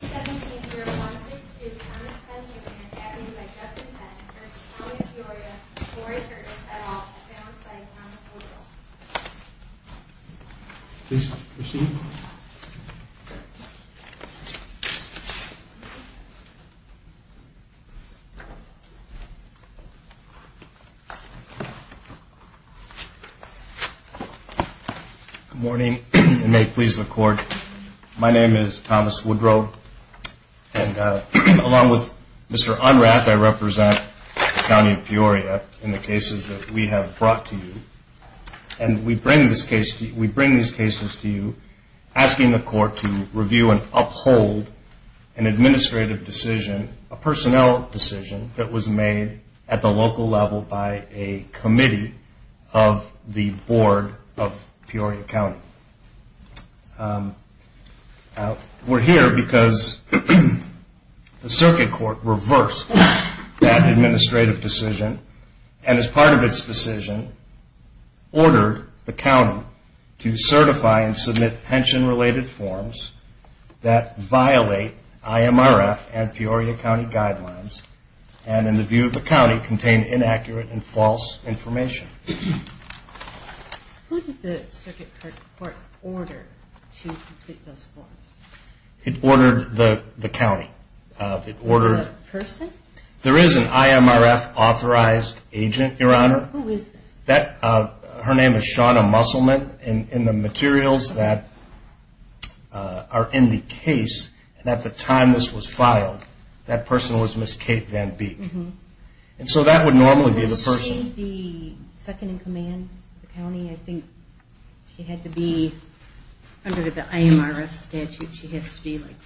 17-0162 Thomas Cunningham and Avenue by Justin Penn v. County of Peoria, Lori Curtis, et al. Founds by Thomas Woodrow. Please proceed. Good morning, and may it please the Court. My name is Thomas Woodrow, and along with Mr. Unrath, I represent the County of Peoria in the cases that we have brought to you. And we bring these cases to you asking the Court to review and uphold an administrative decision, a personnel decision, that was made at the local level by a committee of the Board of Peoria County. We're here because the Circuit Court reversed that administrative decision, and as part of its decision, ordered the County to certify and submit pension-related forms that violate IMRF and Peoria County guidelines, and in the view of the County, contain inaccurate and false information. Who did the Circuit Court order to complete those forms? It ordered the County. The person? There is an IMRF-authorized agent, Your Honor. Who is that? Her name is Shawna Musselman, and the materials that are in the case at the time this was filed, that person was Ms. Kate Van Beek. And so that would normally be the person. Was she the second-in-command of the County? I think she had to be under the IMRF statute. She has to be like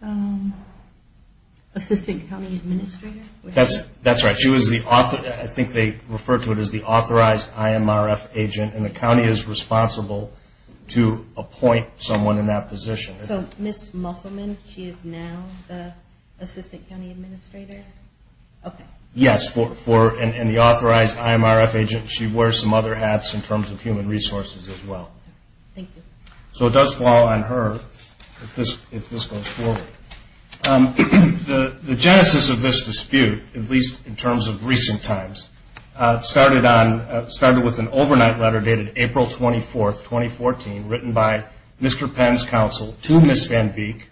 the Assistant County Administrator? That's right. I think they refer to it as the authorized IMRF agent, and the County is responsible to appoint someone in that position. So Ms. Musselman, she is now the Assistant County Administrator? Yes, and the authorized IMRF agent, she wears some other hats in terms of human resources as well. So it does fall on her if this goes forward. The genesis of this dispute, at least in terms of recent times, started with an overnight letter dated April 24, 2014, written by Mr. Penn's counsel to Ms. Van Beek,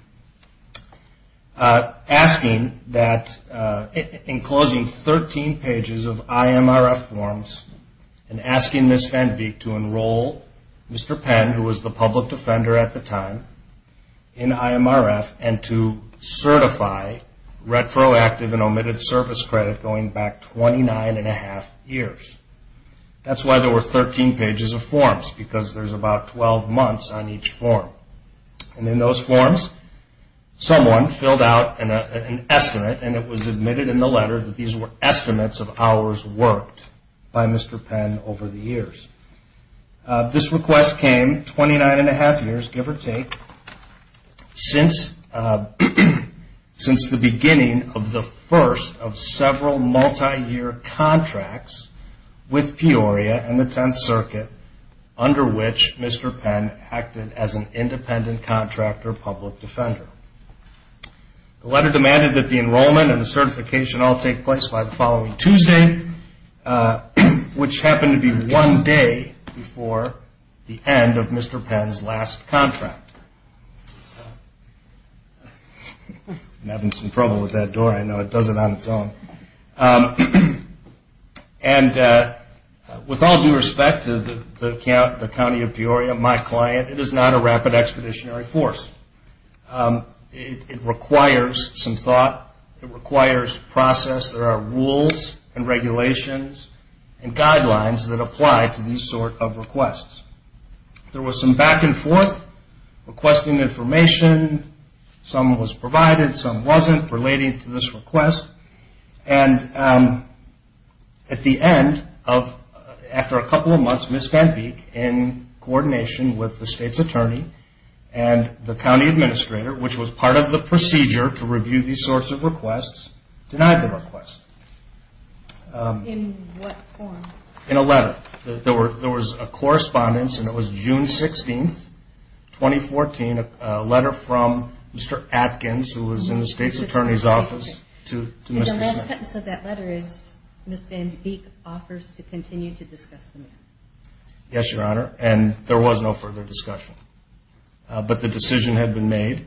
enclosing 13 pages of IMRF forms, and asking Ms. Van Beek to enroll Mr. Penn, who was the public defender at the time, in IMRF, and to certify retroactive and omitted service credit going back 29 1⁄2 years. That's why there were 13 pages of forms, because there's about 12 months on each form. And in those forms, someone filled out an estimate, and it was admitted in the letter that these were estimates of hours worked by Mr. Penn over the years. This request came 29 1⁄2 years, give or take, since the beginning of the first of several multi-year contracts with Peoria and the Tenth Circuit, under which Mr. Penn acted as an independent contractor public defender. The letter demanded that the enrollment and the certification all take place by the following Tuesday, which happened to be one day before the end of Mr. Penn's last contract. I'm having some trouble with that door. I know it does it on its own. And with all due respect to the County of Peoria, my client, it is not a rapid expeditionary force. It requires some thought. It requires process. There are rules and regulations and guidelines that apply to these sort of requests. There was some back-and-forth requesting information. Some was provided, some wasn't, relating to this request. And at the end, after a couple of months, Ms. VanViek, in coordination with the state's attorney and the county administrator, which was part of the procedure to review these sorts of requests, denied the request. In what form? In a letter. There was a correspondence, and it was June 16, 2014, a letter from Mr. Atkins, who was in the state's attorney's office, to Mr. Smith. And the last sentence of that letter is, Ms. VanViek offers to continue to discuss the matter. Yes, Your Honor. And there was no further discussion. But the decision had been made.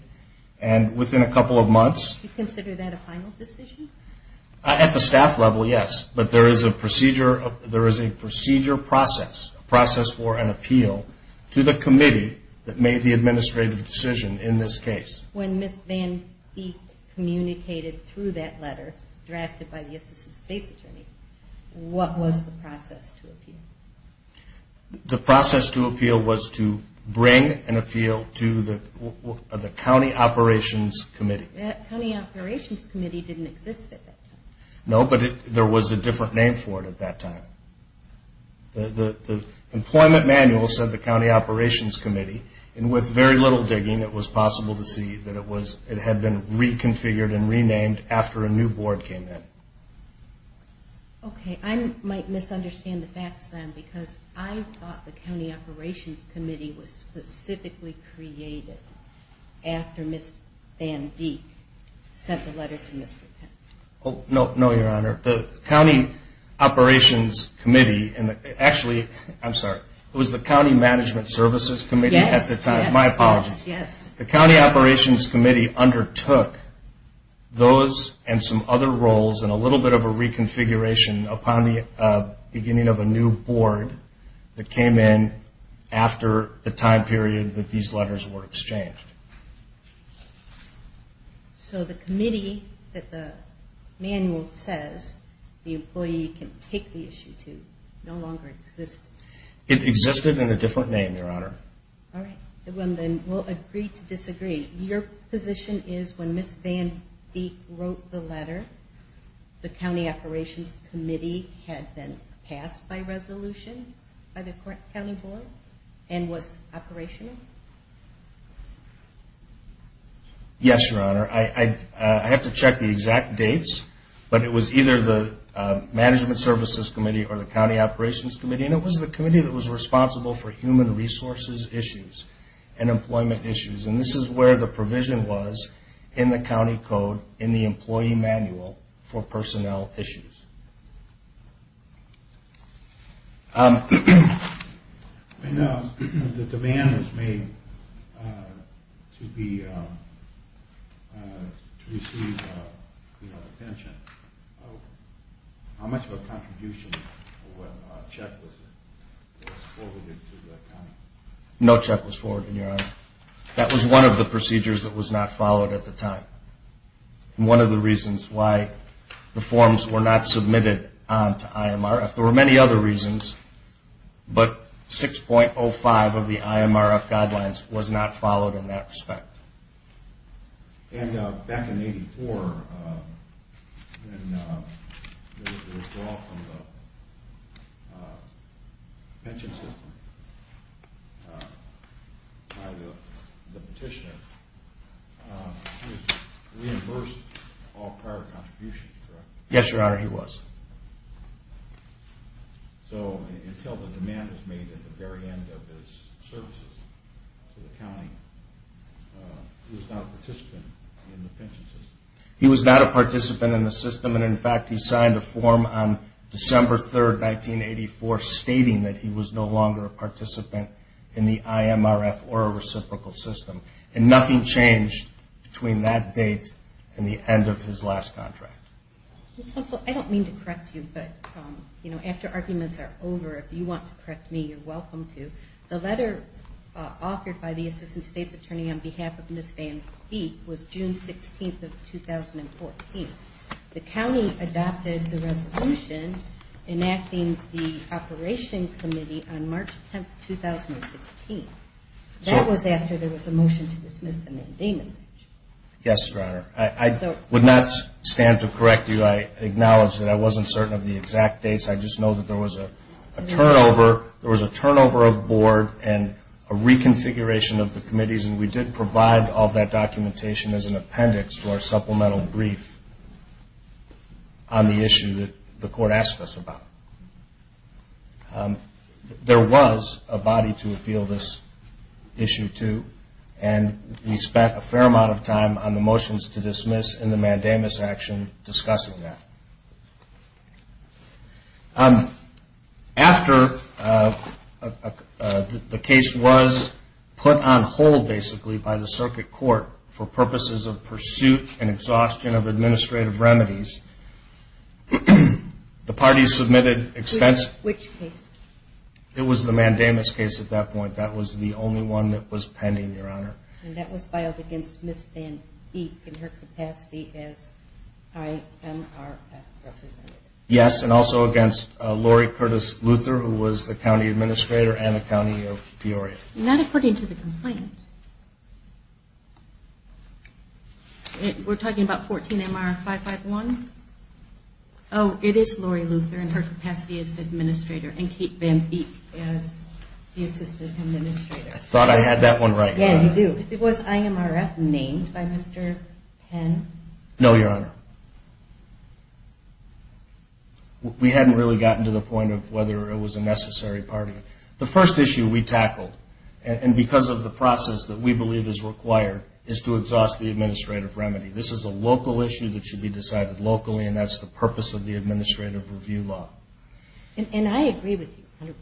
And within a couple of months. Do you consider that a final decision? At the staff level, yes. But there is a procedure process, a process for an appeal, to the committee that made the administrative decision in this case. When Ms. VanViek communicated through that letter, drafted by the assistant state's attorney, what was the process to appeal? The process to appeal was to bring an appeal to the county operations committee. That county operations committee didn't exist at that time. No, but there was a different name for it at that time. The employment manual said the county operations committee. And with very little digging, it was possible to see that it had been reconfigured and renamed after a new board came in. Okay. I might misunderstand the facts then, because I thought the county operations committee was specifically created after Ms. VanViek sent the letter to Mr. Atkins. Oh, no, Your Honor. The county operations committee, actually, I'm sorry, it was the county management services committee? Yes. My apologies. Yes. The county operations committee undertook those and some other roles and a little bit of a reconfiguration upon the beginning of a new board that came in after the time period that these letters were exchanged. So the committee that the manual says the employee can take the issue to no longer exists? It existed in a different name, Your Honor. All right. Then we'll agree to disagree. Your position is when Ms. VanViek wrote the letter, the county operations committee had been passed by resolution by the county board and was operational? Yes, Your Honor. I have to check the exact dates, but it was either the management services committee or the county operations committee, and it was the committee that was responsible for human resources issues and employment issues, and this is where the provision was in the county code in the employee manual for personnel issues. I know the demand was made to receive a pension. How much of a contribution or what check was forwarded to the county? No check was forwarded, Your Honor. That was one of the procedures that was not followed at the time, and one of the reasons why the forms were not submitted on to IMRF. There were many other reasons, but 6.05 of the IMRF guidelines was not followed in that respect. And back in 1984, there was a withdrawal from the pension system by the petitioner. He reimbursed all prior contributions, correct? Yes, Your Honor, he was. So until the demand was made at the very end of his services to the county, he was not a participant in the pension system? He was not a participant in the system, and in fact, he signed a form on December 3, 1984, stating that he was no longer a participant in the IMRF or a reciprocal system, and nothing changed between that date and the end of his last contract. Counsel, I don't mean to correct you, but after arguments are over, if you want to correct me, you're welcome to. The letter offered by the Assistant State's Attorney on behalf of Ms. Van Vieth was June 16, 2014. The county adopted the resolution enacting the operation committee on March 10, 2016. That was after there was a motion to dismiss the mandamus action. Yes, Your Honor. I would not stand to correct you. I acknowledge that I wasn't certain of the exact dates. I just know that there was a turnover of board and a reconfiguration of the committees, and we did provide all that documentation as an appendix for a supplemental brief on the issue that the court asked us about. There was a body to appeal this issue to, and we spent a fair amount of time on the motions to dismiss and the mandamus action discussing that. After the case was put on hold, basically, by the circuit court for purposes of pursuit and exhaustion of administrative remedies, the parties submitted expense. Which case? It was the mandamus case at that point. That was the only one that was pending, Your Honor. And that was filed against Ms. Van Vieth in her capacity as IMRF representative? Yes, and also against Lori Curtis-Luther, who was the county administrator and the county of Peoria. Not according to the complaint. We're talking about 14 MR 551? Oh, it is Lori Luther in her capacity as administrator, and Kate Van Vieth as the assistant administrator. I thought I had that one right. Yeah, you do. Was IMRF named by Mr. Penn? No, Your Honor. We hadn't really gotten to the point of whether it was a necessary party. The first issue we tackled, and because of the process that we believe is required, is to exhaust the administrative remedy. This is a local issue that should be decided locally, and that's the purpose of the administrative review law. And I agree with you 100%.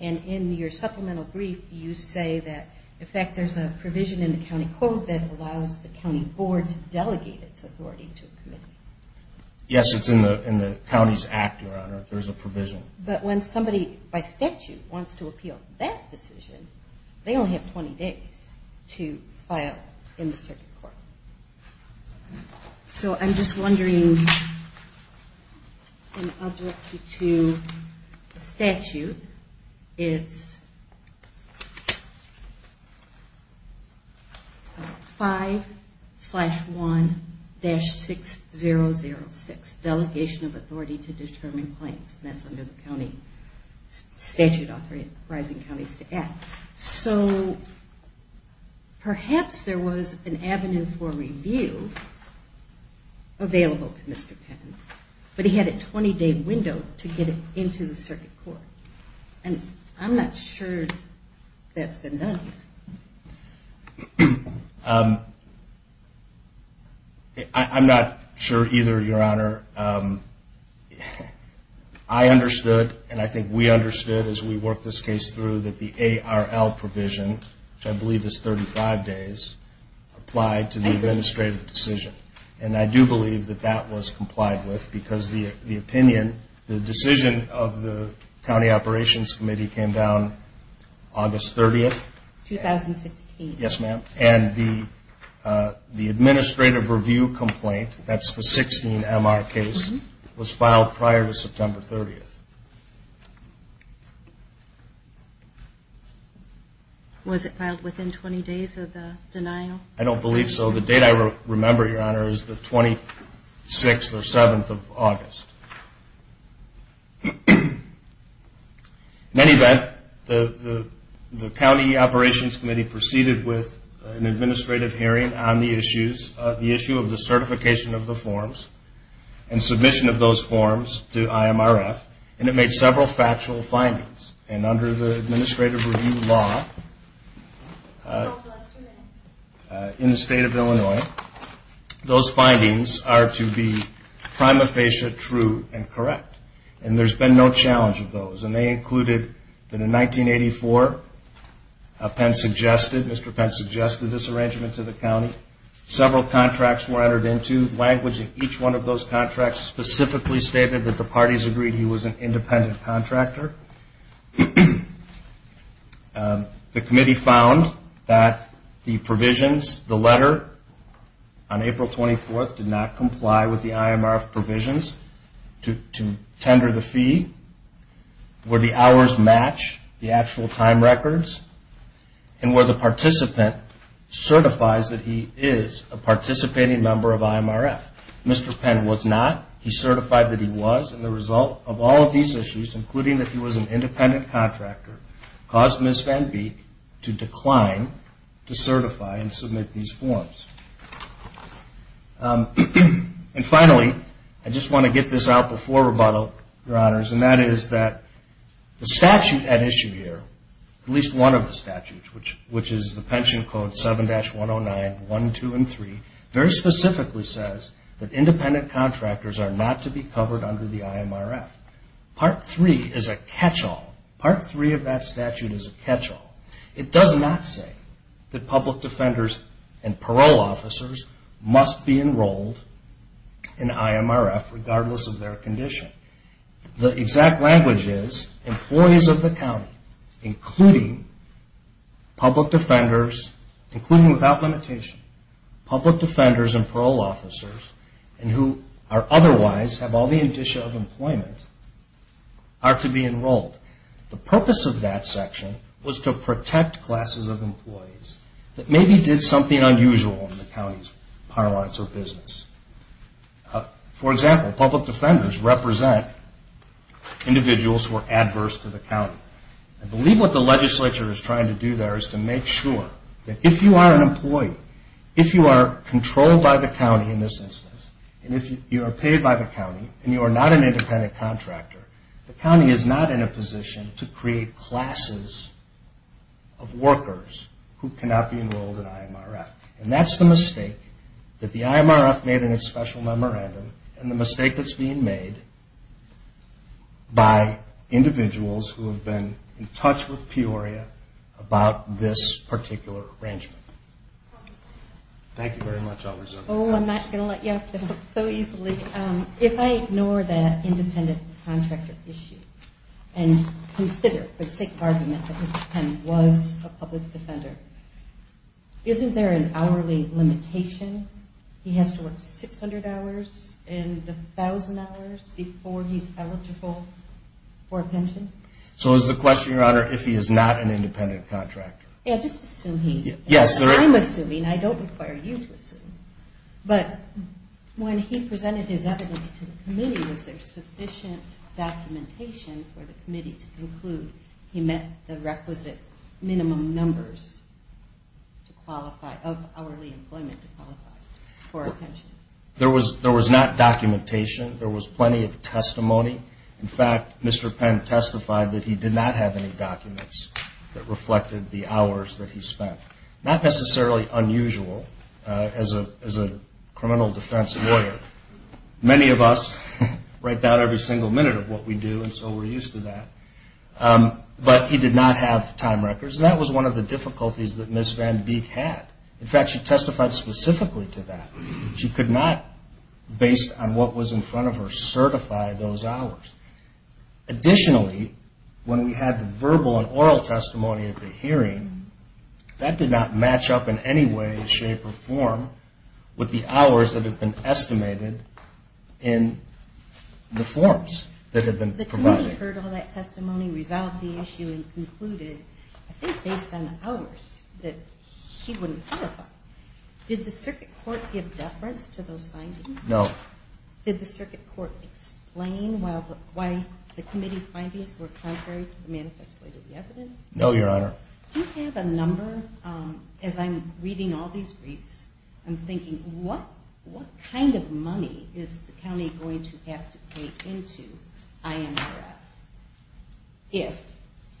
And in your supplemental brief, you say that, in fact, there's a provision in the county code that allows the county board to delegate its authority to a committee. Yes, it's in the county's act, Your Honor. There's a provision. But when somebody by statute wants to appeal that decision, they only have 20 days to file in the circuit court. So I'm just wondering, and I'll direct you to the statute. It's 5-1-6006, Delegation of Authority to Determine Claims. That's under the statute authorizing counties to act. So perhaps there was an avenue for review available to Mr. Patton, but he had a 20-day window to get it into the circuit court. And I'm not sure that's been done. I'm not sure either, Your Honor. I understood, and I think we understood as we worked this case through, that the ARL provision, which I believe is 35 days, applied to the administrative decision. And I do believe that that was complied with because the opinion, the decision of the County Operations Committee came down August 30th. 2016. Yes, ma'am. And the administrative review complaint, that's the 16-MR case, was filed prior to September 30th. Was it filed within 20 days of the denial? I don't believe so. The date I remember, Your Honor, is the 26th or 7th of August. In any event, the County Operations Committee proceeded with an administrative hearing on the issue of the certification of the forms and submission of those forms to IMRF. And it made several factual findings. And under the administrative review law in the state of Illinois, those findings are to be prima facie true and correct. And there's been no challenge of those. And they included that in 1984, Mr. Penn suggested this arrangement to the county. Several contracts were entered into. Each one of those contracts specifically stated that the parties agreed he was an independent contractor. The committee found that the provisions, the letter on April 24th, did not comply with the IMRF provisions to tender the fee, where the hours match the actual time records, and where the participant certifies that he is a participating member of IMRF. Mr. Penn was not. He certified that he was. And the result of all of these issues, including that he was an independent contractor, caused Ms. Van Beek to decline to certify and submit these forms. And finally, I just want to get this out before rebuttal, Your Honors, and that is that the statute at issue here, at least one of the statutes, which is the pension code 7-109, 1, 2, and 3, very specifically says that independent contractors are not to be covered under the IMRF. Part 3 is a catch-all. Part 3 of that statute is a catch-all. It does not say that public defenders and parole officers must be enrolled in IMRF, regardless of their condition. The exact language is, employees of the county, including public defenders, including without limitation, public defenders and parole officers, and who are otherwise have all the indicia of employment, are to be enrolled. The purpose of that section was to protect classes of employees that maybe did something unusual in the county's parlance or business. For example, public defenders represent individuals who are adverse to the county. I believe what the legislature is trying to do there is to make sure that if you are an employee, if you are controlled by the county in this instance, and if you are paid by the county, and you are not an independent contractor, the county is not in a position to create classes of workers who cannot be enrolled in IMRF. And that's the mistake that the IMRF made in its special memorandum and the mistake that's being made by individuals who have been in touch with Peoria about this particular arrangement. Thank you very much. Oh, I'm not going to let you off the hook so easily. If I ignore that independent contractor issue and consider for the sake of argument that Mr. Penn was a public defender, isn't there an hourly limitation? He has to work 600 hours and 1,000 hours before he's eligible for a pension? So is the question, Your Honor, if he is not an independent contractor? Yeah, just assume he is. Yes. I'm assuming. I don't require you to assume. But when he presented his evidence to the committee, was there sufficient documentation for the committee to conclude he met the requisite minimum numbers of hourly employment to qualify for a pension? There was not documentation. There was plenty of testimony. In fact, Mr. Penn testified that he did not have any documents that reflected the hours that he spent. Not necessarily unusual as a criminal defense lawyer. Many of us write down every single minute of what we do, and so we're used to that. But he did not have time records, and that was one of the difficulties that Ms. Van Beek had. In fact, she testified specifically to that. She could not, based on what was in front of her, certify those hours. Additionally, when we had the verbal and oral testimony at the hearing, that did not match up in any way, shape, or form with the hours that had been estimated in the forms that had been provided. The committee heard all that testimony, resolved the issue, and concluded, I think based on the hours, that he wouldn't qualify. Did the circuit court give deference to those findings? No. Did the circuit court explain why the committee's findings were contrary to the manifesto evidence? No, Your Honor. Do you have a number? As I'm reading all these briefs, I'm thinking, what kind of money is the county going to have to pay into INRF if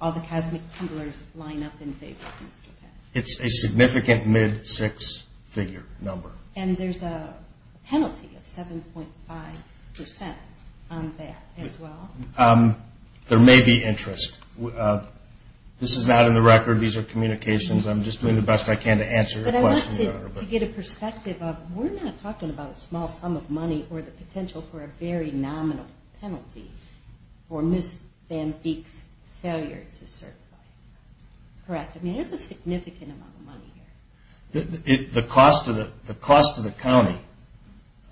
all the cosmic tumblers line up in favor of Mr. Penn? It's a significant mid-six figure number. And there's a penalty of 7.5% on that as well? There may be interest. This is not in the record. These are communications. I'm just doing the best I can to answer your question, Your Honor. But I want to get a perspective of, we're not talking about a small sum of money or the potential for a very nominal penalty for Ms. Van Veek's failure to certify. Correct? I mean, it's a significant amount of money here. The cost to the county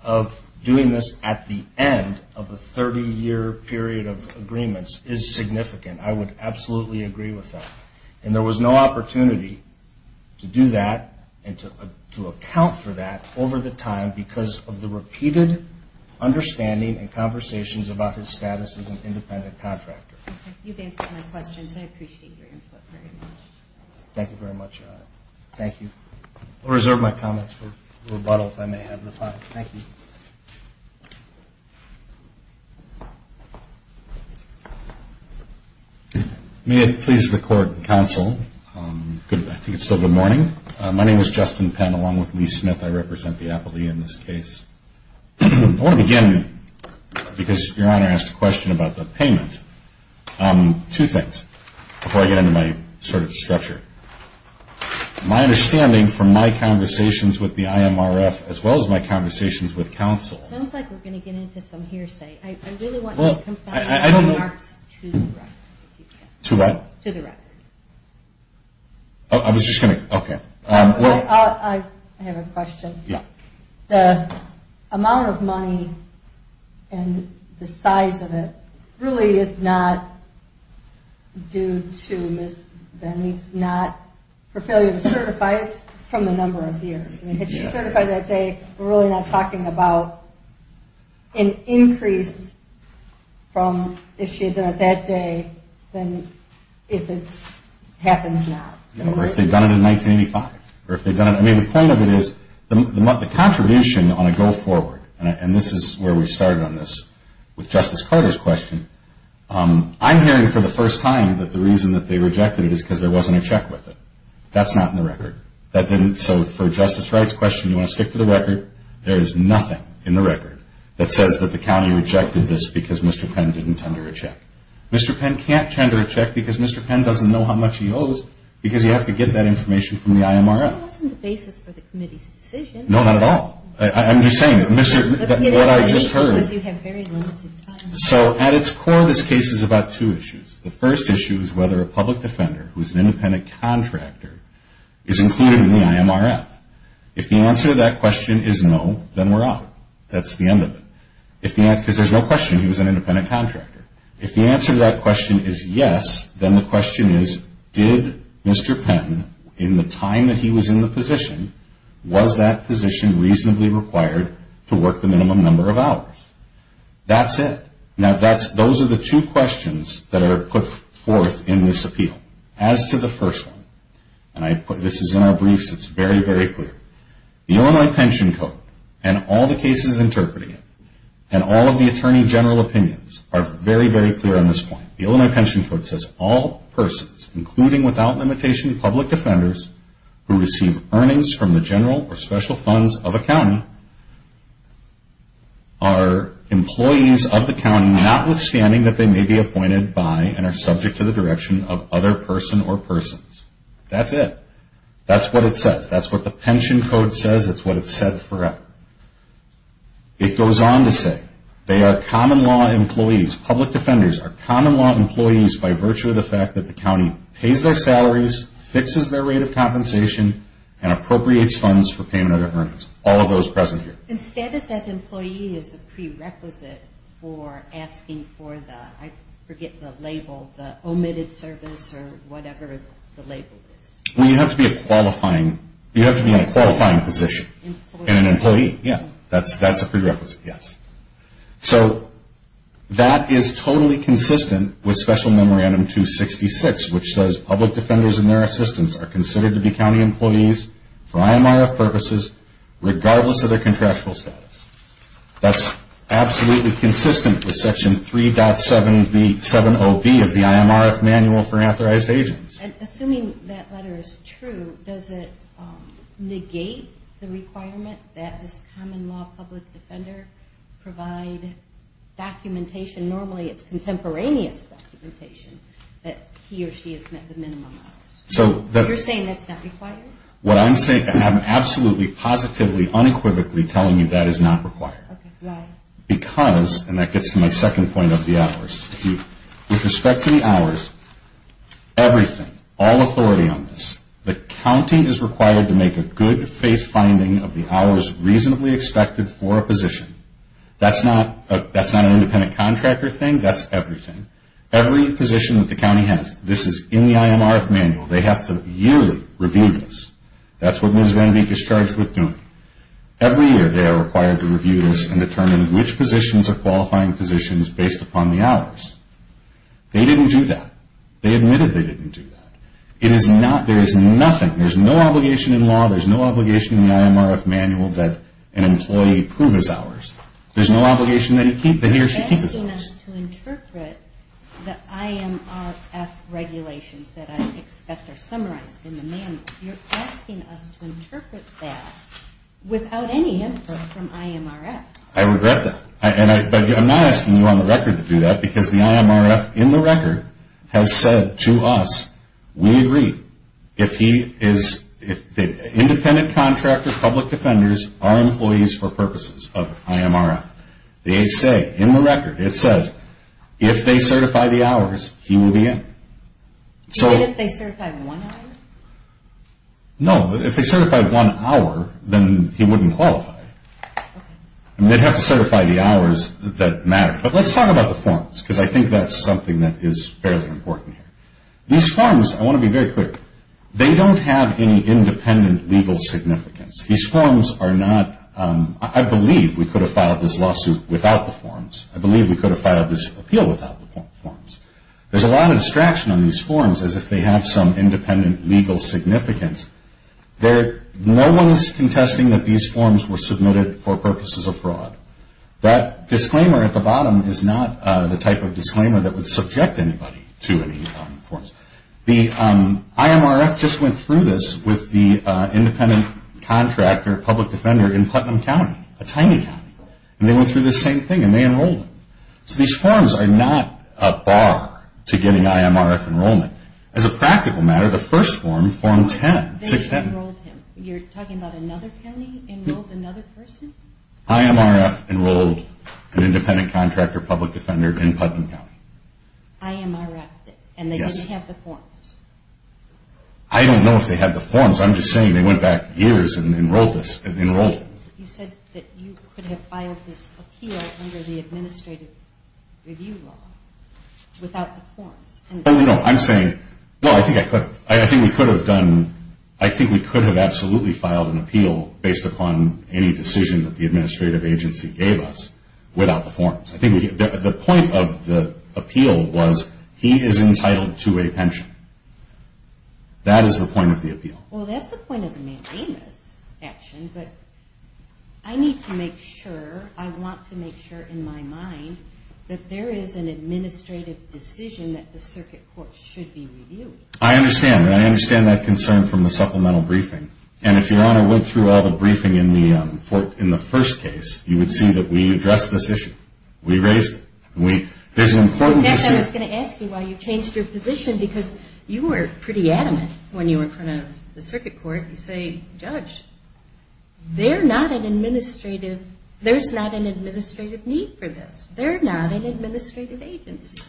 of doing this at the end of a 30-year period of agreements is significant. I would absolutely agree with that. And there was no opportunity to do that and to account for that over the time because of the repeated understanding and conversations about his status as an independent contractor. You've answered my questions. I appreciate your input very much. Thank you very much, Your Honor. Thank you. I'll reserve my comments for rebuttal if I may have the time. Thank you. May I please record counsel? I think it's still good morning. My name is Justin Penn, along with Lee Smith. I represent the appellee in this case. I want to begin, because Your Honor asked a question about the payment, two things, before I get into my sort of structure. My understanding from my conversations with the IMRF, as well as my conversations with counsel. It sounds like we're going to get into some hearsay. I really want you to come back with remarks to the record, if you can. To the record? To the record. I was just going to. Okay. I have a question. Yeah. The amount of money and the size of it really is not due to Ms. Benney. It's not her failure to certify. It's from the number of years. Had she certified that day, we're really not talking about an increase from if she had done it that day, than if it happens now. Or if they'd done it in 1985. I mean, the point of it is the contribution on a go forward, and this is where we started on this with Justice Carter's question, I'm hearing for the first time that the reason that they rejected it is because there wasn't a check with it. That's not in the record. So for a justice rights question, you want to stick to the record. There is nothing in the record that says that the county rejected this because Mr. Penn didn't tender a check. Mr. Penn can't tender a check because Mr. Penn doesn't know how much he owes, because you have to get that information from the IMRF. That wasn't the basis for the committee's decision. No, not at all. I'm just saying, what I just heard. Because you have very limited time. So at its core, this case is about two issues. The first issue is whether a public defender who is an independent contractor is included in the IMRF. If the answer to that question is no, then we're out. That's the end of it. Because there's no question he was an independent contractor. If the answer to that question is yes, then the question is, did Mr. Penn, in the time that he was in the position, was that position reasonably required to work the minimum number of hours? That's it. Now, those are the two questions that are put forth in this appeal. As to the first one, and this is in our briefs, it's very, very clear. The Illinois Pension Code and all the cases interpreting it and all of the Attorney General opinions are very, very clear on this point. The Illinois Pension Code says all persons, including without limitation public defenders, who receive earnings from the general or special funds of a county, are employees of the county, notwithstanding that they may be appointed by and are subject to the direction of other person or persons. That's it. That's what it says. That's what the Pension Code says. It's what it's said forever. It goes on to say they are common law employees. Public defenders are common law employees by virtue of the fact that the county pays their salaries, fixes their rate of compensation, and appropriates funds for payment of their earnings. All of those present here. And status as employee is a prerequisite for asking for the, I forget the label, the omitted service or whatever the label is. Well, you have to be a qualifying, you have to be in a qualifying position. Employee. And an employee, yeah. That's a prerequisite, yes. So that is totally consistent with Special Memorandum 266, which says public defenders and their assistants are considered to be county employees for IMRF purposes regardless of their contractual status. That's absolutely consistent with Section 3.70B of the IMRF Manual for Authorized Agents. And assuming that letter is true, does it negate the requirement that this common law public defender provide documentation? Normally it's contemporaneous documentation that he or she has met the minimum. You're saying that's not required? What I'm saying, I'm absolutely, positively, unequivocally telling you that is not required. Why? Because, and that gets to my second point of the hours. With respect to the hours, everything, all authority on this, the county is required to make a good faith finding of the hours reasonably expected for a position. That's not an independent contractor thing. That's everything. Every position that the county has, this is in the IMRF Manual. They have to yearly review this. That's what Ms. Van Dyke is charged with doing. Every year they are required to review this and determine which positions are qualifying positions based upon the hours. They didn't do that. They admitted they didn't do that. It is not, there is nothing, there's no obligation in law, there's no obligation in the IMRF Manual that an employee prove his hours. There's no obligation that he or she keep his hours. You're asking us to interpret the IMRF regulations that I expect are summarized in the Manual. You're asking us to interpret that without any input from IMRF. I regret that. But I'm not asking you on the record to do that because the IMRF, in the record, has said to us, we agree, if he is, independent contractors, public defenders are employees for purposes of IMRF. They say, in the record, it says, if they certify the hours, he will be in. Even if they certify one hour? No, if they certify one hour, then he wouldn't qualify. They'd have to certify the hours that matter. But let's talk about the forms because I think that's something that is fairly important here. These forms, I want to be very clear, they don't have any independent legal significance. These forms are not, I believe we could have filed this lawsuit without the forms. I believe we could have filed this appeal without the forms. There's a lot of distraction on these forms as if they have some independent legal significance. No one is contesting that these forms were submitted for purposes of fraud. That disclaimer at the bottom is not the type of disclaimer that would subject anybody to any forms. The IMRF just went through this with the independent contractor, public defender in Putnam County, a tiny county. And they went through the same thing and they enrolled him. So these forms are not a bar to getting IMRF enrollment. As a practical matter, the first form, Form 10, 610. They enrolled him. You're talking about another county enrolled another person? IMRF enrolled an independent contractor, public defender in Putnam County. IMRF? Yes. And they didn't have the forms? I don't know if they had the forms. I'm just saying they went back years and enrolled. You said that you could have filed this appeal under the administrative review law without the forms. No, I'm saying, no, I think we could have done, I think we could have absolutely filed an appeal based upon any decision that the administrative agency gave us without the forms. I think the point of the appeal was he is entitled to a pension. That is the point of the appeal. Well, that's the point of the mandamus action, but I need to make sure, I want to make sure in my mind, that there is an administrative decision that the circuit court should be reviewing. I understand, and I understand that concern from the supplemental briefing. And if Your Honor went through all the briefing in the first case, you would see that we addressed this issue. We raised it. I guess I was going to ask you why you changed your position because you were pretty adamant when you were in front of the circuit court. You say, Judge, they're not an administrative, there's not an administrative need for this. They're not an administrative agency.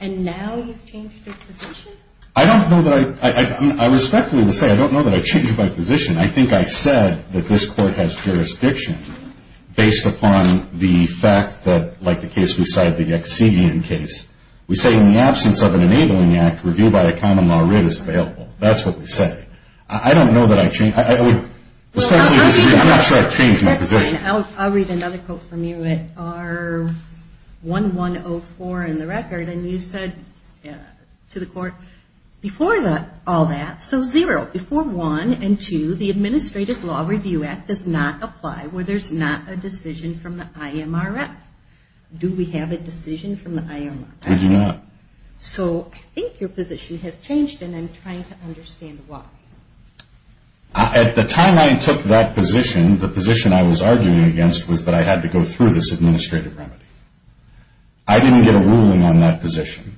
And now you've changed your position? I don't know that I, I respectfully will say I don't know that I changed my position. I think I said that this court has jurisdiction based upon the fact that, like the case we cited, the Excedian case. We say in the absence of an enabling act, review by a common law writ is available. That's what we say. I don't know that I changed, I would respectfully disagree. I'm not sure I changed my position. I'll read another quote from you at R1104 in the record. And you said to the court, before all that, so zero. Before one and two, the Administrative Law Review Act does not apply where there's not a decision from the IMRF. Do we have a decision from the IMRF? We do not. So I think your position has changed and I'm trying to understand why. At the time I took that position, the position I was arguing against was that I had to go through this administrative remedy. I didn't get a ruling on that position.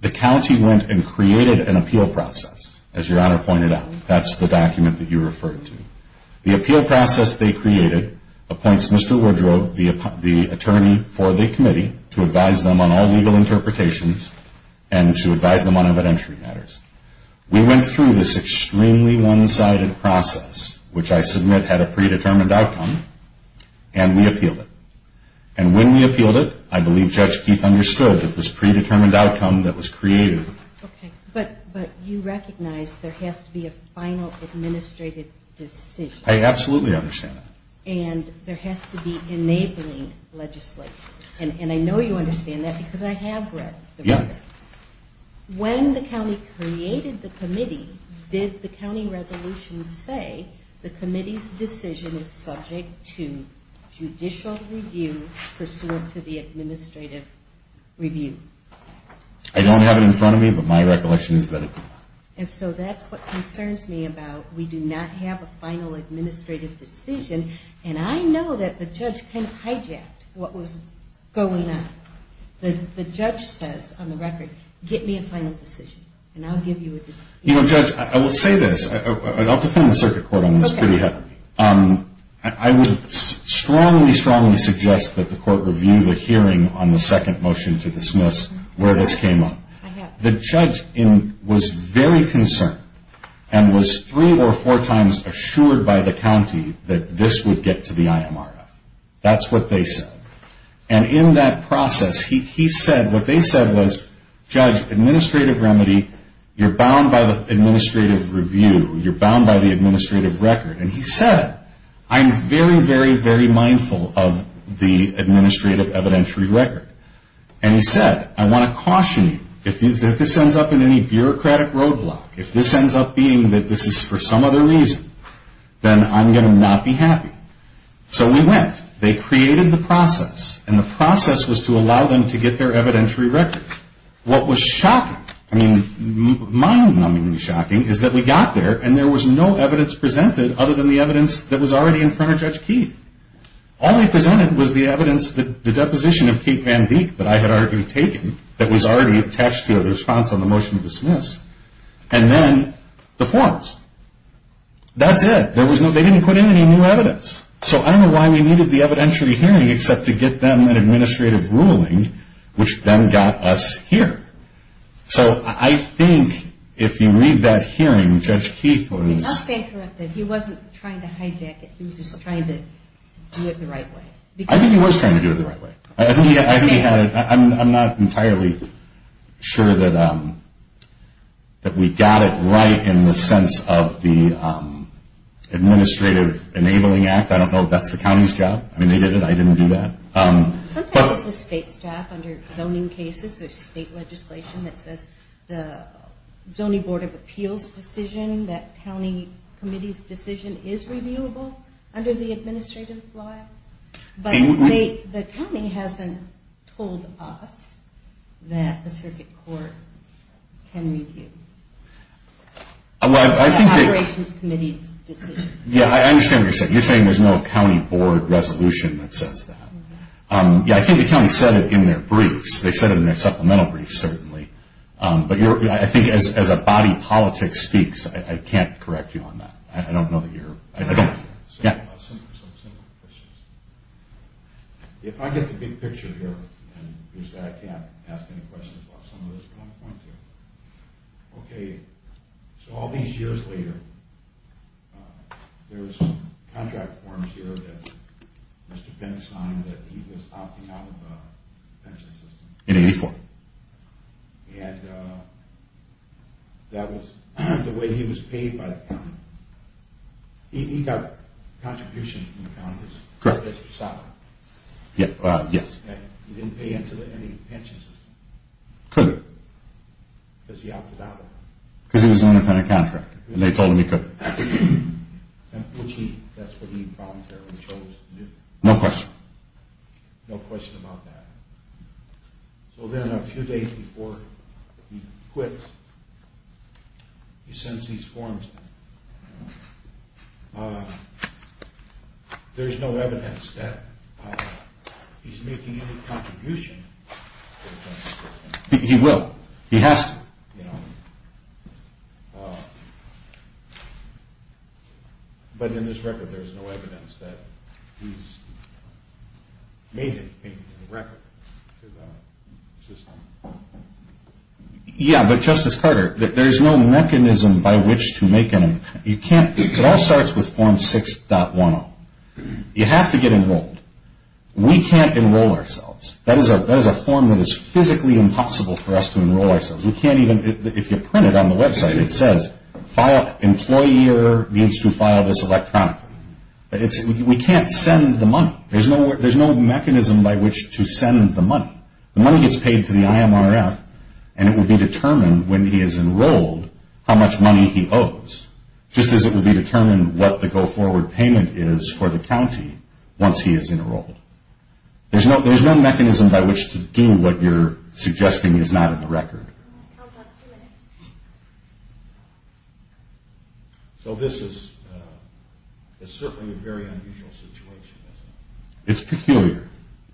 The county went and created an appeal process, as Your Honor pointed out. That's the document that you referred to. The appeal process they created appoints Mr. Woodrow, the attorney for the committee, to advise them on all legal interpretations and to advise them on evidentiary matters. We went through this extremely one-sided process, which I submit had a predetermined outcome, and we appealed it. And when we appealed it, I believe Judge Keith understood that this predetermined outcome that was created. Okay. But you recognize there has to be a final administrative decision. I absolutely understand that. And there has to be enabling legislation. And I know you understand that because I have read the report. Yeah. When the county created the committee, did the county resolution say the committee's decision is subject to judicial review pursuant to the administrative review? I don't have it in front of me, but my recollection is that it did. And so that's what concerns me about we do not have a final administrative decision. And I know that the judge kind of hijacked what was going on. The judge says on the record, get me a final decision, and I'll give you a decision. You know, Judge, I will say this. I'll defend the circuit court on this pretty heavily. I would strongly, strongly suggest that the court review the hearing on the second motion to dismiss where this came up. The judge was very concerned and was three or four times assured by the county that this would get to the IMRF. That's what they said. And in that process, what they said was, Judge, administrative remedy, you're bound by the administrative review. You're bound by the administrative record. And he said, I'm very, very, very mindful of the administrative evidentiary record. And he said, I want to caution you. If this ends up in any bureaucratic roadblock, if this ends up being that this is for some other reason, then I'm going to not be happy. So we went. They created the process, and the process was to allow them to get their evidentiary record. What was shocking, I mean, mind-numbingly shocking, is that we got there, and there was no evidence presented other than the evidence that was already in front of Judge Keith. All they presented was the evidence, the deposition of Keith Van Deek that I had already taken, that was already attached to the response on the motion to dismiss, and then the forms. That's it. They didn't put in any new evidence. So I don't know why we needed the evidentiary hearing except to get them an administrative ruling, which then got us here. So I think if you read that hearing, Judge Keith was – He must have been corrupted. He wasn't trying to hijack it. He was just trying to do it the right way. I think he was trying to do it the right way. I'm not entirely sure that we got it right in the sense of the Administrative Enabling Act. I don't know if that's the county's job. I mean, they did it. I didn't do that. Sometimes it's the state's job under zoning cases. There's state legislation that says the Zoning Board of Appeals decision, that county committee's decision, is reviewable under the administrative law. But the county hasn't told us that the circuit court can review the operations committee's decision. Yeah, I understand what you're saying. You're saying there's no county board resolution that says that. Yeah, I think the county said it in their briefs. They said it in their supplemental briefs, certainly. But I think as a body politics speaks, I can't correct you on that. I don't know that you're – Some simple questions. If I get the big picture here, and you say I can't ask any questions about some of this, but I'm going to. Okay, so all these years later, there was some contract forms here that Mr. Penn signed that he was opting out of the pension system. In 84. And that was the way he was paid by the county. He got contributions from the county. Correct. He didn't pay into any pension system. He couldn't. Because he opted out of it. Because he was an independent contractor, and they told him he couldn't. That's what he voluntarily chose to do. No question. No question about that. So then a few days before he quit, he sends these forms. There's no evidence that he's making any contribution to the pension system. He will. He has to. You know. But in this record, there's no evidence that he's making a record to the system. Yeah, but Justice Carter, there's no mechanism by which to make any. It all starts with Form 6.10. You have to get enrolled. We can't enroll ourselves. That is a form that is physically impossible for us to enroll ourselves. If you print it on the website, it says, Employer needs to file this electronically. We can't send the money. There's no mechanism by which to send the money. The money gets paid to the IMRF, and it will be determined when he is enrolled how much money he owes, just as it will be determined what the go-forward payment is for the county once he is enrolled. There's no mechanism by which to do what you're suggesting is not in the record. So this is certainly a very unusual situation, isn't it? It's peculiar.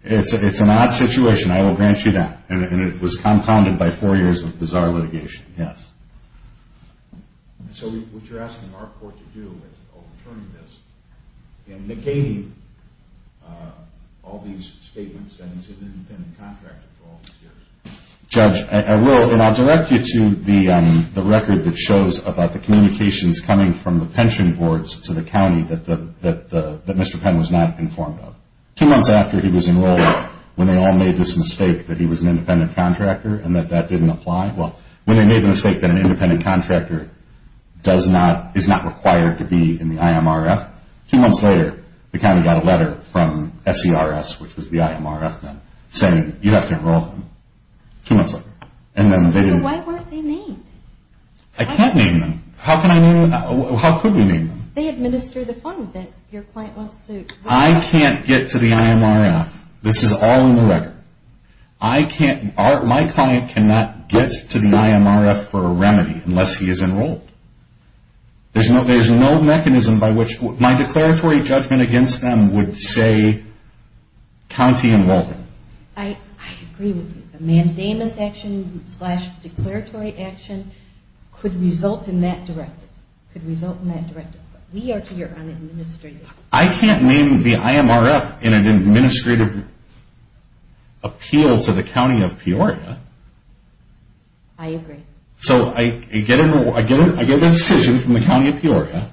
It's an odd situation. I will grant you that. And it was compounded by four years of bizarre litigation, yes. So what you're asking our court to do in overturning this and negating all these statements that he's an independent contractor for all these years? Judge, I will, and I'll direct you to the record that shows about the communications coming from the pension boards to the county that Mr. Penn was not informed of. Two months after he was enrolled, when they all made this mistake that he was an independent contractor and that that didn't apply. Well, when they made the mistake that an independent contractor is not required to be in the IMRF, two months later the county got a letter from SERS, which was the IMRF then, saying you have to enroll him, two months later. So why weren't they named? I can't name them. How can I name them? How could we name them? They administer the fund that your client wants to. I can't get to the IMRF. This is all in the record. I can't, my client cannot get to the IMRF for a remedy unless he is enrolled. There's no mechanism by which, my declaratory judgment against them would say county enroll him. I agree with you. A mandamus action slash declaratory action could result in that directive. Could result in that directive. We are here on administrative. I can't name the IMRF in an administrative appeal to the county of Peoria. I agree. So I get a decision from the county of Peoria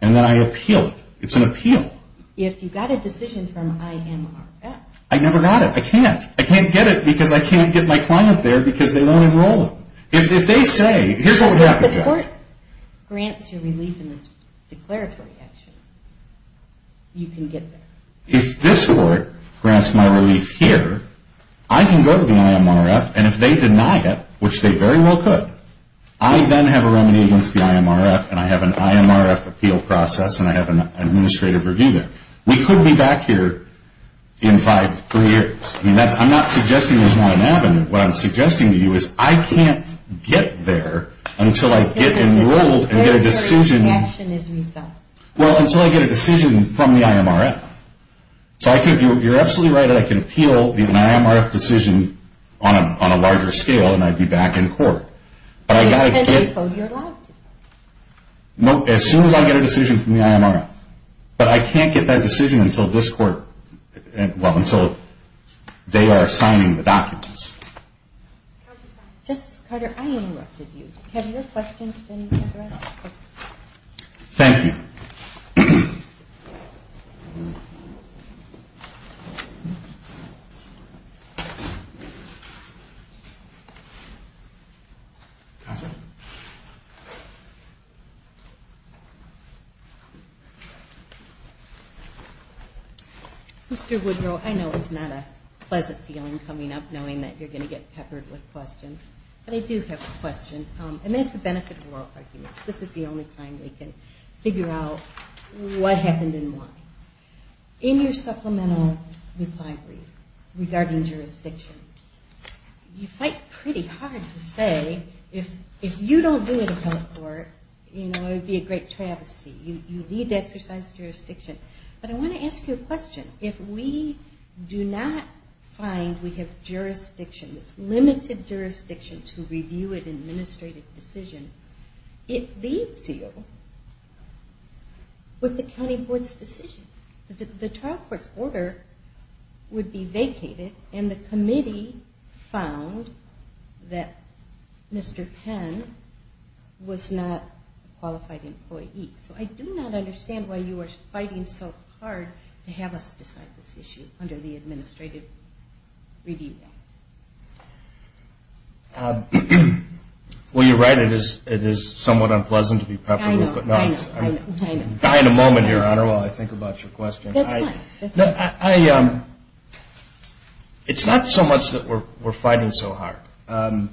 and then I appeal it. It's an appeal. If you got a decision from IMRF. I never got it. I can't. I can't get it because I can't get my client there because they don't enroll him. If they say, here's what would happen. If the court grants you relief in the declaratory action, you can get there. If this court grants my relief here, I can go to the IMRF and if they deny it, which they very well could, I then have a remedy against the IMRF and I have an IMRF appeal process and I have an administrative review there. We could be back here in five, three years. I'm not suggesting there's not an avenue. What I'm suggesting to you is I can't get there until I get enrolled and get a decision. Well, until I get a decision from the IMRF. So I think you're absolutely right that I can appeal an IMRF decision on a larger scale and I'd be back in court. As soon as I get a decision from the IMRF. But I can't get that decision until this court, well, until they are signing the documents. Justice Carter, I interrupted you. Have your questions been answered? Thank you. Mr. Woodrow, I know it's not a pleasant feeling coming up knowing that you're going to get peppered with questions, but I do have a question and that's the benefit of oral arguments. This is the only time we can figure out what happened and why. In your supplemental reply brief regarding jurisdiction, you fight pretty hard to say if you don't do it at health court, you know, it would be a great travesty. You need to exercise jurisdiction. But I want to ask you a question. If we do not find we have jurisdiction, it's limited jurisdiction to review an administrative decision, it leaves you with the county board's decision. The trial court's order would be vacated and the committee found that Mr. Penn was not a qualified employee. So I do not understand why you are fighting so hard to have us decide this issue under the administrative review. Well, you're right. It is somewhat unpleasant to be peppered with. I know. I know. I know. I know. I know. I know. I know. I know. I know.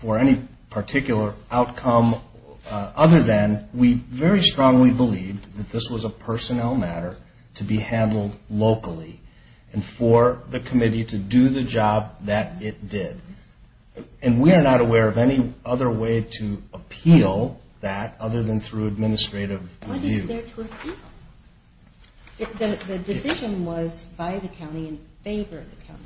for any particular outcome other than we very strongly believe that this was a personnel matter to be handled locally and for the committee to do the job that it did. And we are not aware of any other way to appeal that other than through administrative review. What is there to appeal? The decision was by the county in favor of the county.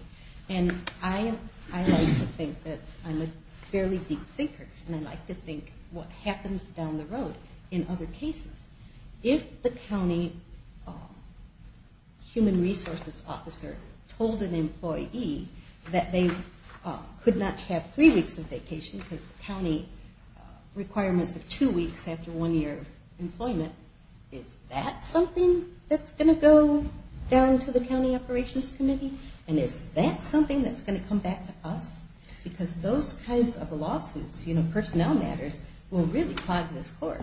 And I like to think that I'm a fairly deep thinker and I like to think what happens down the road in other cases. If the county human resources officer told an employee that they could not have three weeks of vacation because the county requirements are two weeks after one year of employment, is that something that's going to go down to the county operations committee? And is that something that's going to come back to us? Because those kinds of lawsuits, you know, personnel matters, will really clog this core.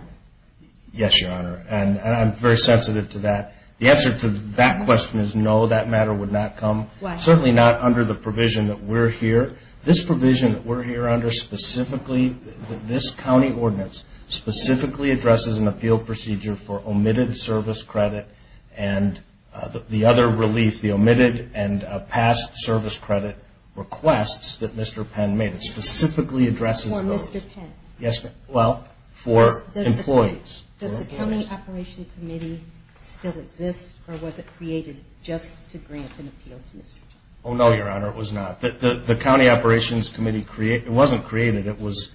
Yes, Your Honor. And I'm very sensitive to that. The answer to that question is no, that matter would not come. Certainly not under the provision that we're here. This provision that we're here under specifically, this county ordinance, specifically addresses an appeal procedure for omitted service credit and the other relief, the omitted and past service credit requests that Mr. Penn made. It specifically addresses those. For Mr. Penn? Yes, ma'am. Well, for employees. Does the county operations committee still exist or was it created just to grant an appeal to Mr. Penn? Oh, no, Your Honor, it was not. The county operations committee wasn't created. It was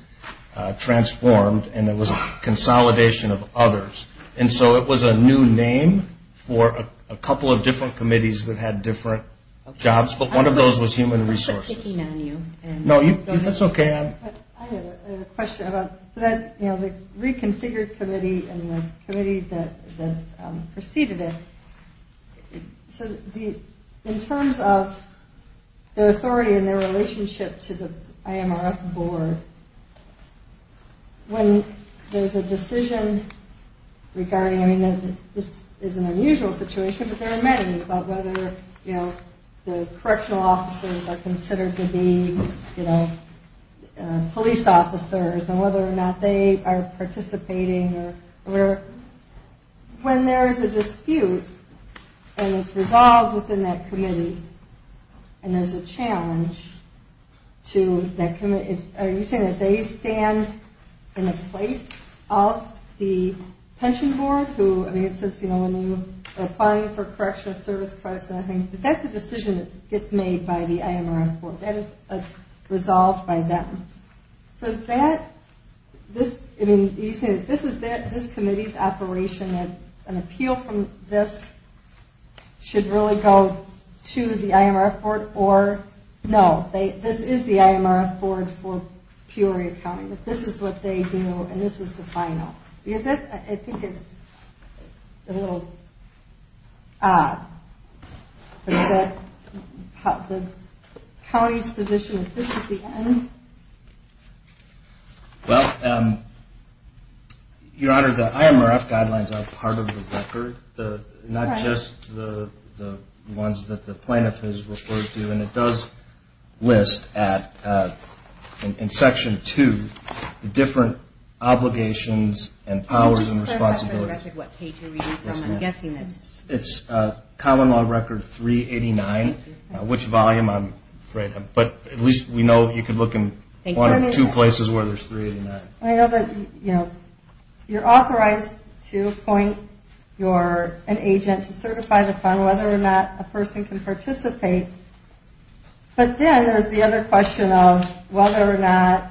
transformed and it was a consolidation of others. And so it was a new name for a couple of different committees that had different jobs, but one of those was human resources. I'll put a ticking on you. No, that's okay. I have a question about the reconfigured committee and the committee that preceded it. In terms of the authority and their relationship to the IMRF board, when there's a decision regarding, I mean, this is an unusual situation, but there are many about whether the correctional officers are considered to be police officers and whether or not they are participating or whatever. When there is a dispute and it's resolved within that committee and there's a challenge to that committee, are you saying that they stand in the place of the pension board who, I mean, it says when you're applying for correctional service credits, that's the decision that gets made by the IMRF board. That is resolved by them. So is that, this, I mean, are you saying that this committee's operation and an appeal from this should really go to the IMRF board or no, this is the IMRF board for Peoria County, that this is what they do and this is the final. Is it? I think it's a little odd. Is that the county's position that this is the end? Well, Your Honor, the IMRF guidelines are part of the record, not just the ones that the plaintiff has referred to, and it does list at, in Section 2, the different obligations and powers and responsibilities. What page are you reading from? I'm guessing it's... It's Common Law Record 389, which volume, I'm afraid, but at least we know you can look in one or two places where there's 389. I know that, you know, you're authorized to appoint an agent to certify the fund, whether or not a person can participate, but then there's the other question of whether or not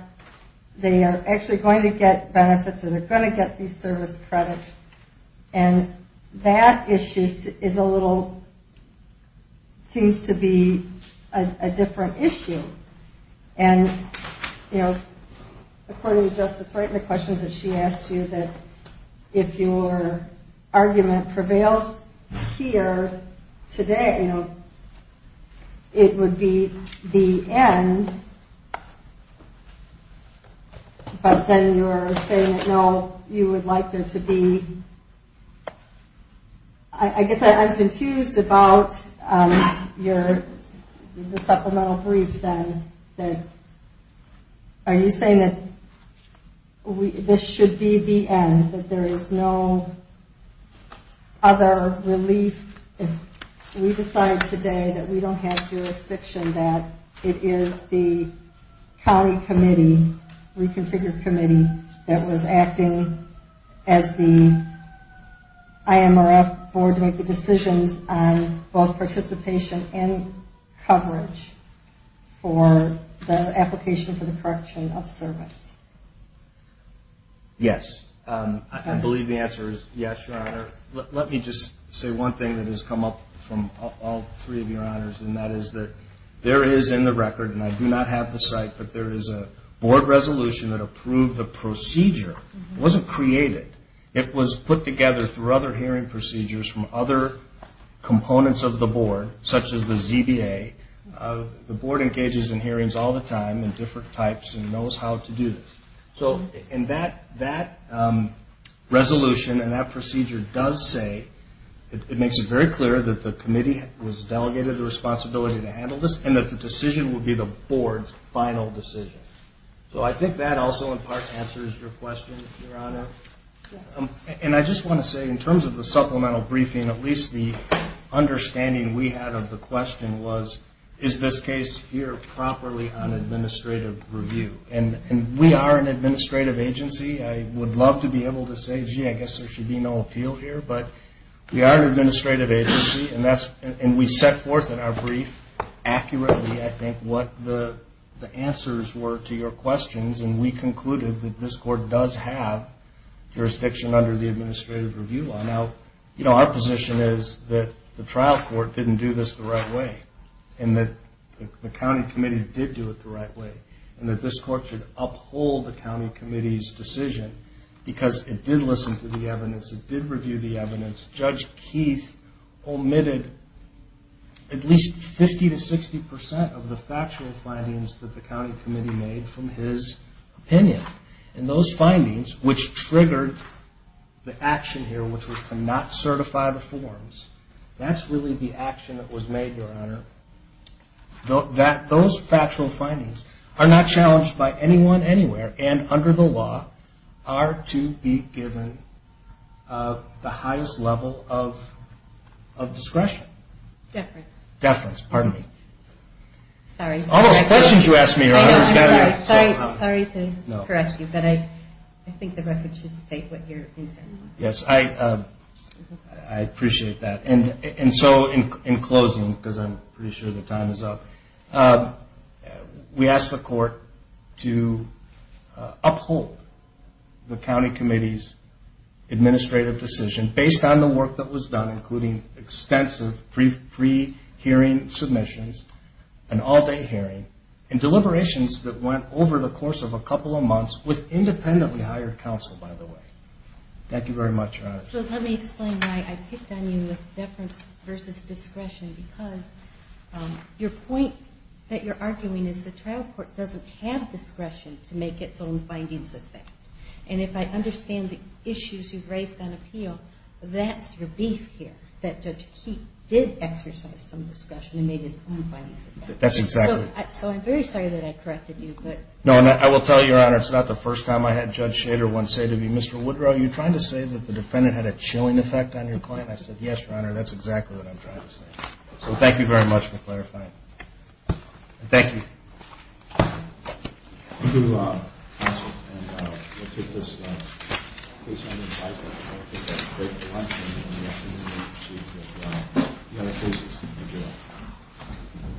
they are actually going to get benefits or they're going to get these service credits, and that issue is a little, seems to be a different issue. And, you know, according to Justice Wright in the questions that she asked you, that if your argument prevails here today, you know, it would be the end, but then you're saying that, no, you would like there to be... I guess I'm confused about your supplemental brief, then, are you saying that this should be the end, that there is no other relief if we decide today that we don't have jurisdiction, that it is the county committee, reconfigured committee, that was acting as the IMRF board to make the decisions on both participation and coverage for the application for the correction of service? Yes. I believe the answer is yes, Your Honor. Let me just say one thing that has come up from all three of Your Honors, and that is that there is in the record, and I do not have the site, but there is a board resolution that approved the procedure. It wasn't created. It was put together through other hearing procedures from other components of the board, such as the ZBA. The board engages in hearings all the time in different types and knows how to do this. And that resolution and that procedure does say, it makes it very clear that the committee was delegated the responsibility to handle this and that the decision will be the board's final decision. So I think that also in part answers your question, Your Honor. And I just want to say, in terms of the supplemental briefing, at least the understanding we had of the question was, is this case here properly on administrative review? And we are an administrative agency. I would love to be able to say, gee, I guess there should be no appeal here. But we are an administrative agency, and we set forth in our brief accurately, I think, what the answers were to your questions, and we concluded that this court does have jurisdiction under the administrative review law. Now, you know, our position is that the trial court didn't do this the right way and that the county committee did do it the right way and that this court should uphold the county committee's decision because it did listen to the evidence. It did review the evidence. Judge Keith omitted at least 50% to 60% of the factual findings that the county committee made from his opinion. And those findings, which triggered the action here, which was to not certify the forms, that's really the action that was made, Your Honor. Those factual findings are not challenged by anyone anywhere and under the law are to be given the highest level of discretion. Deference. Deference, pardon me. Sorry. Those questions you asked me, Your Honor. Sorry to correct you, but I think the record should state what you're intending. Yes, I appreciate that. And so in closing, because I'm pretty sure the time is up, we asked the court to uphold the county committee's administrative decision based on the work that was done, including extensive pre-hearing submissions, an all-day hearing, and deliberations that went over the course of a couple of months with independently hired counsel, by the way. Thank you very much, Your Honor. So let me explain why I picked on you with deference versus discretion because your point that you're arguing is the trial court doesn't have discretion to make its own findings of facts. And if I understand the issues you've raised on appeal, that's your beef here, that Judge Keefe did exercise some discretion and made his own findings of facts. That's exactly right. So I'm very sorry that I corrected you. No, and I will tell you, Your Honor, it's not the first time I had Judge Shader once say to me, Mr. Woodrow, are you trying to say that the defendant had a chilling effect on your client? I said, yes, Your Honor, that's exactly what I'm trying to say. So thank you very much for clarifying. Thank you. Thank you, counsel. And we'll take this case on in five minutes. We'll take a quick lunch break and then we'll proceed to the other cases. Thank you all.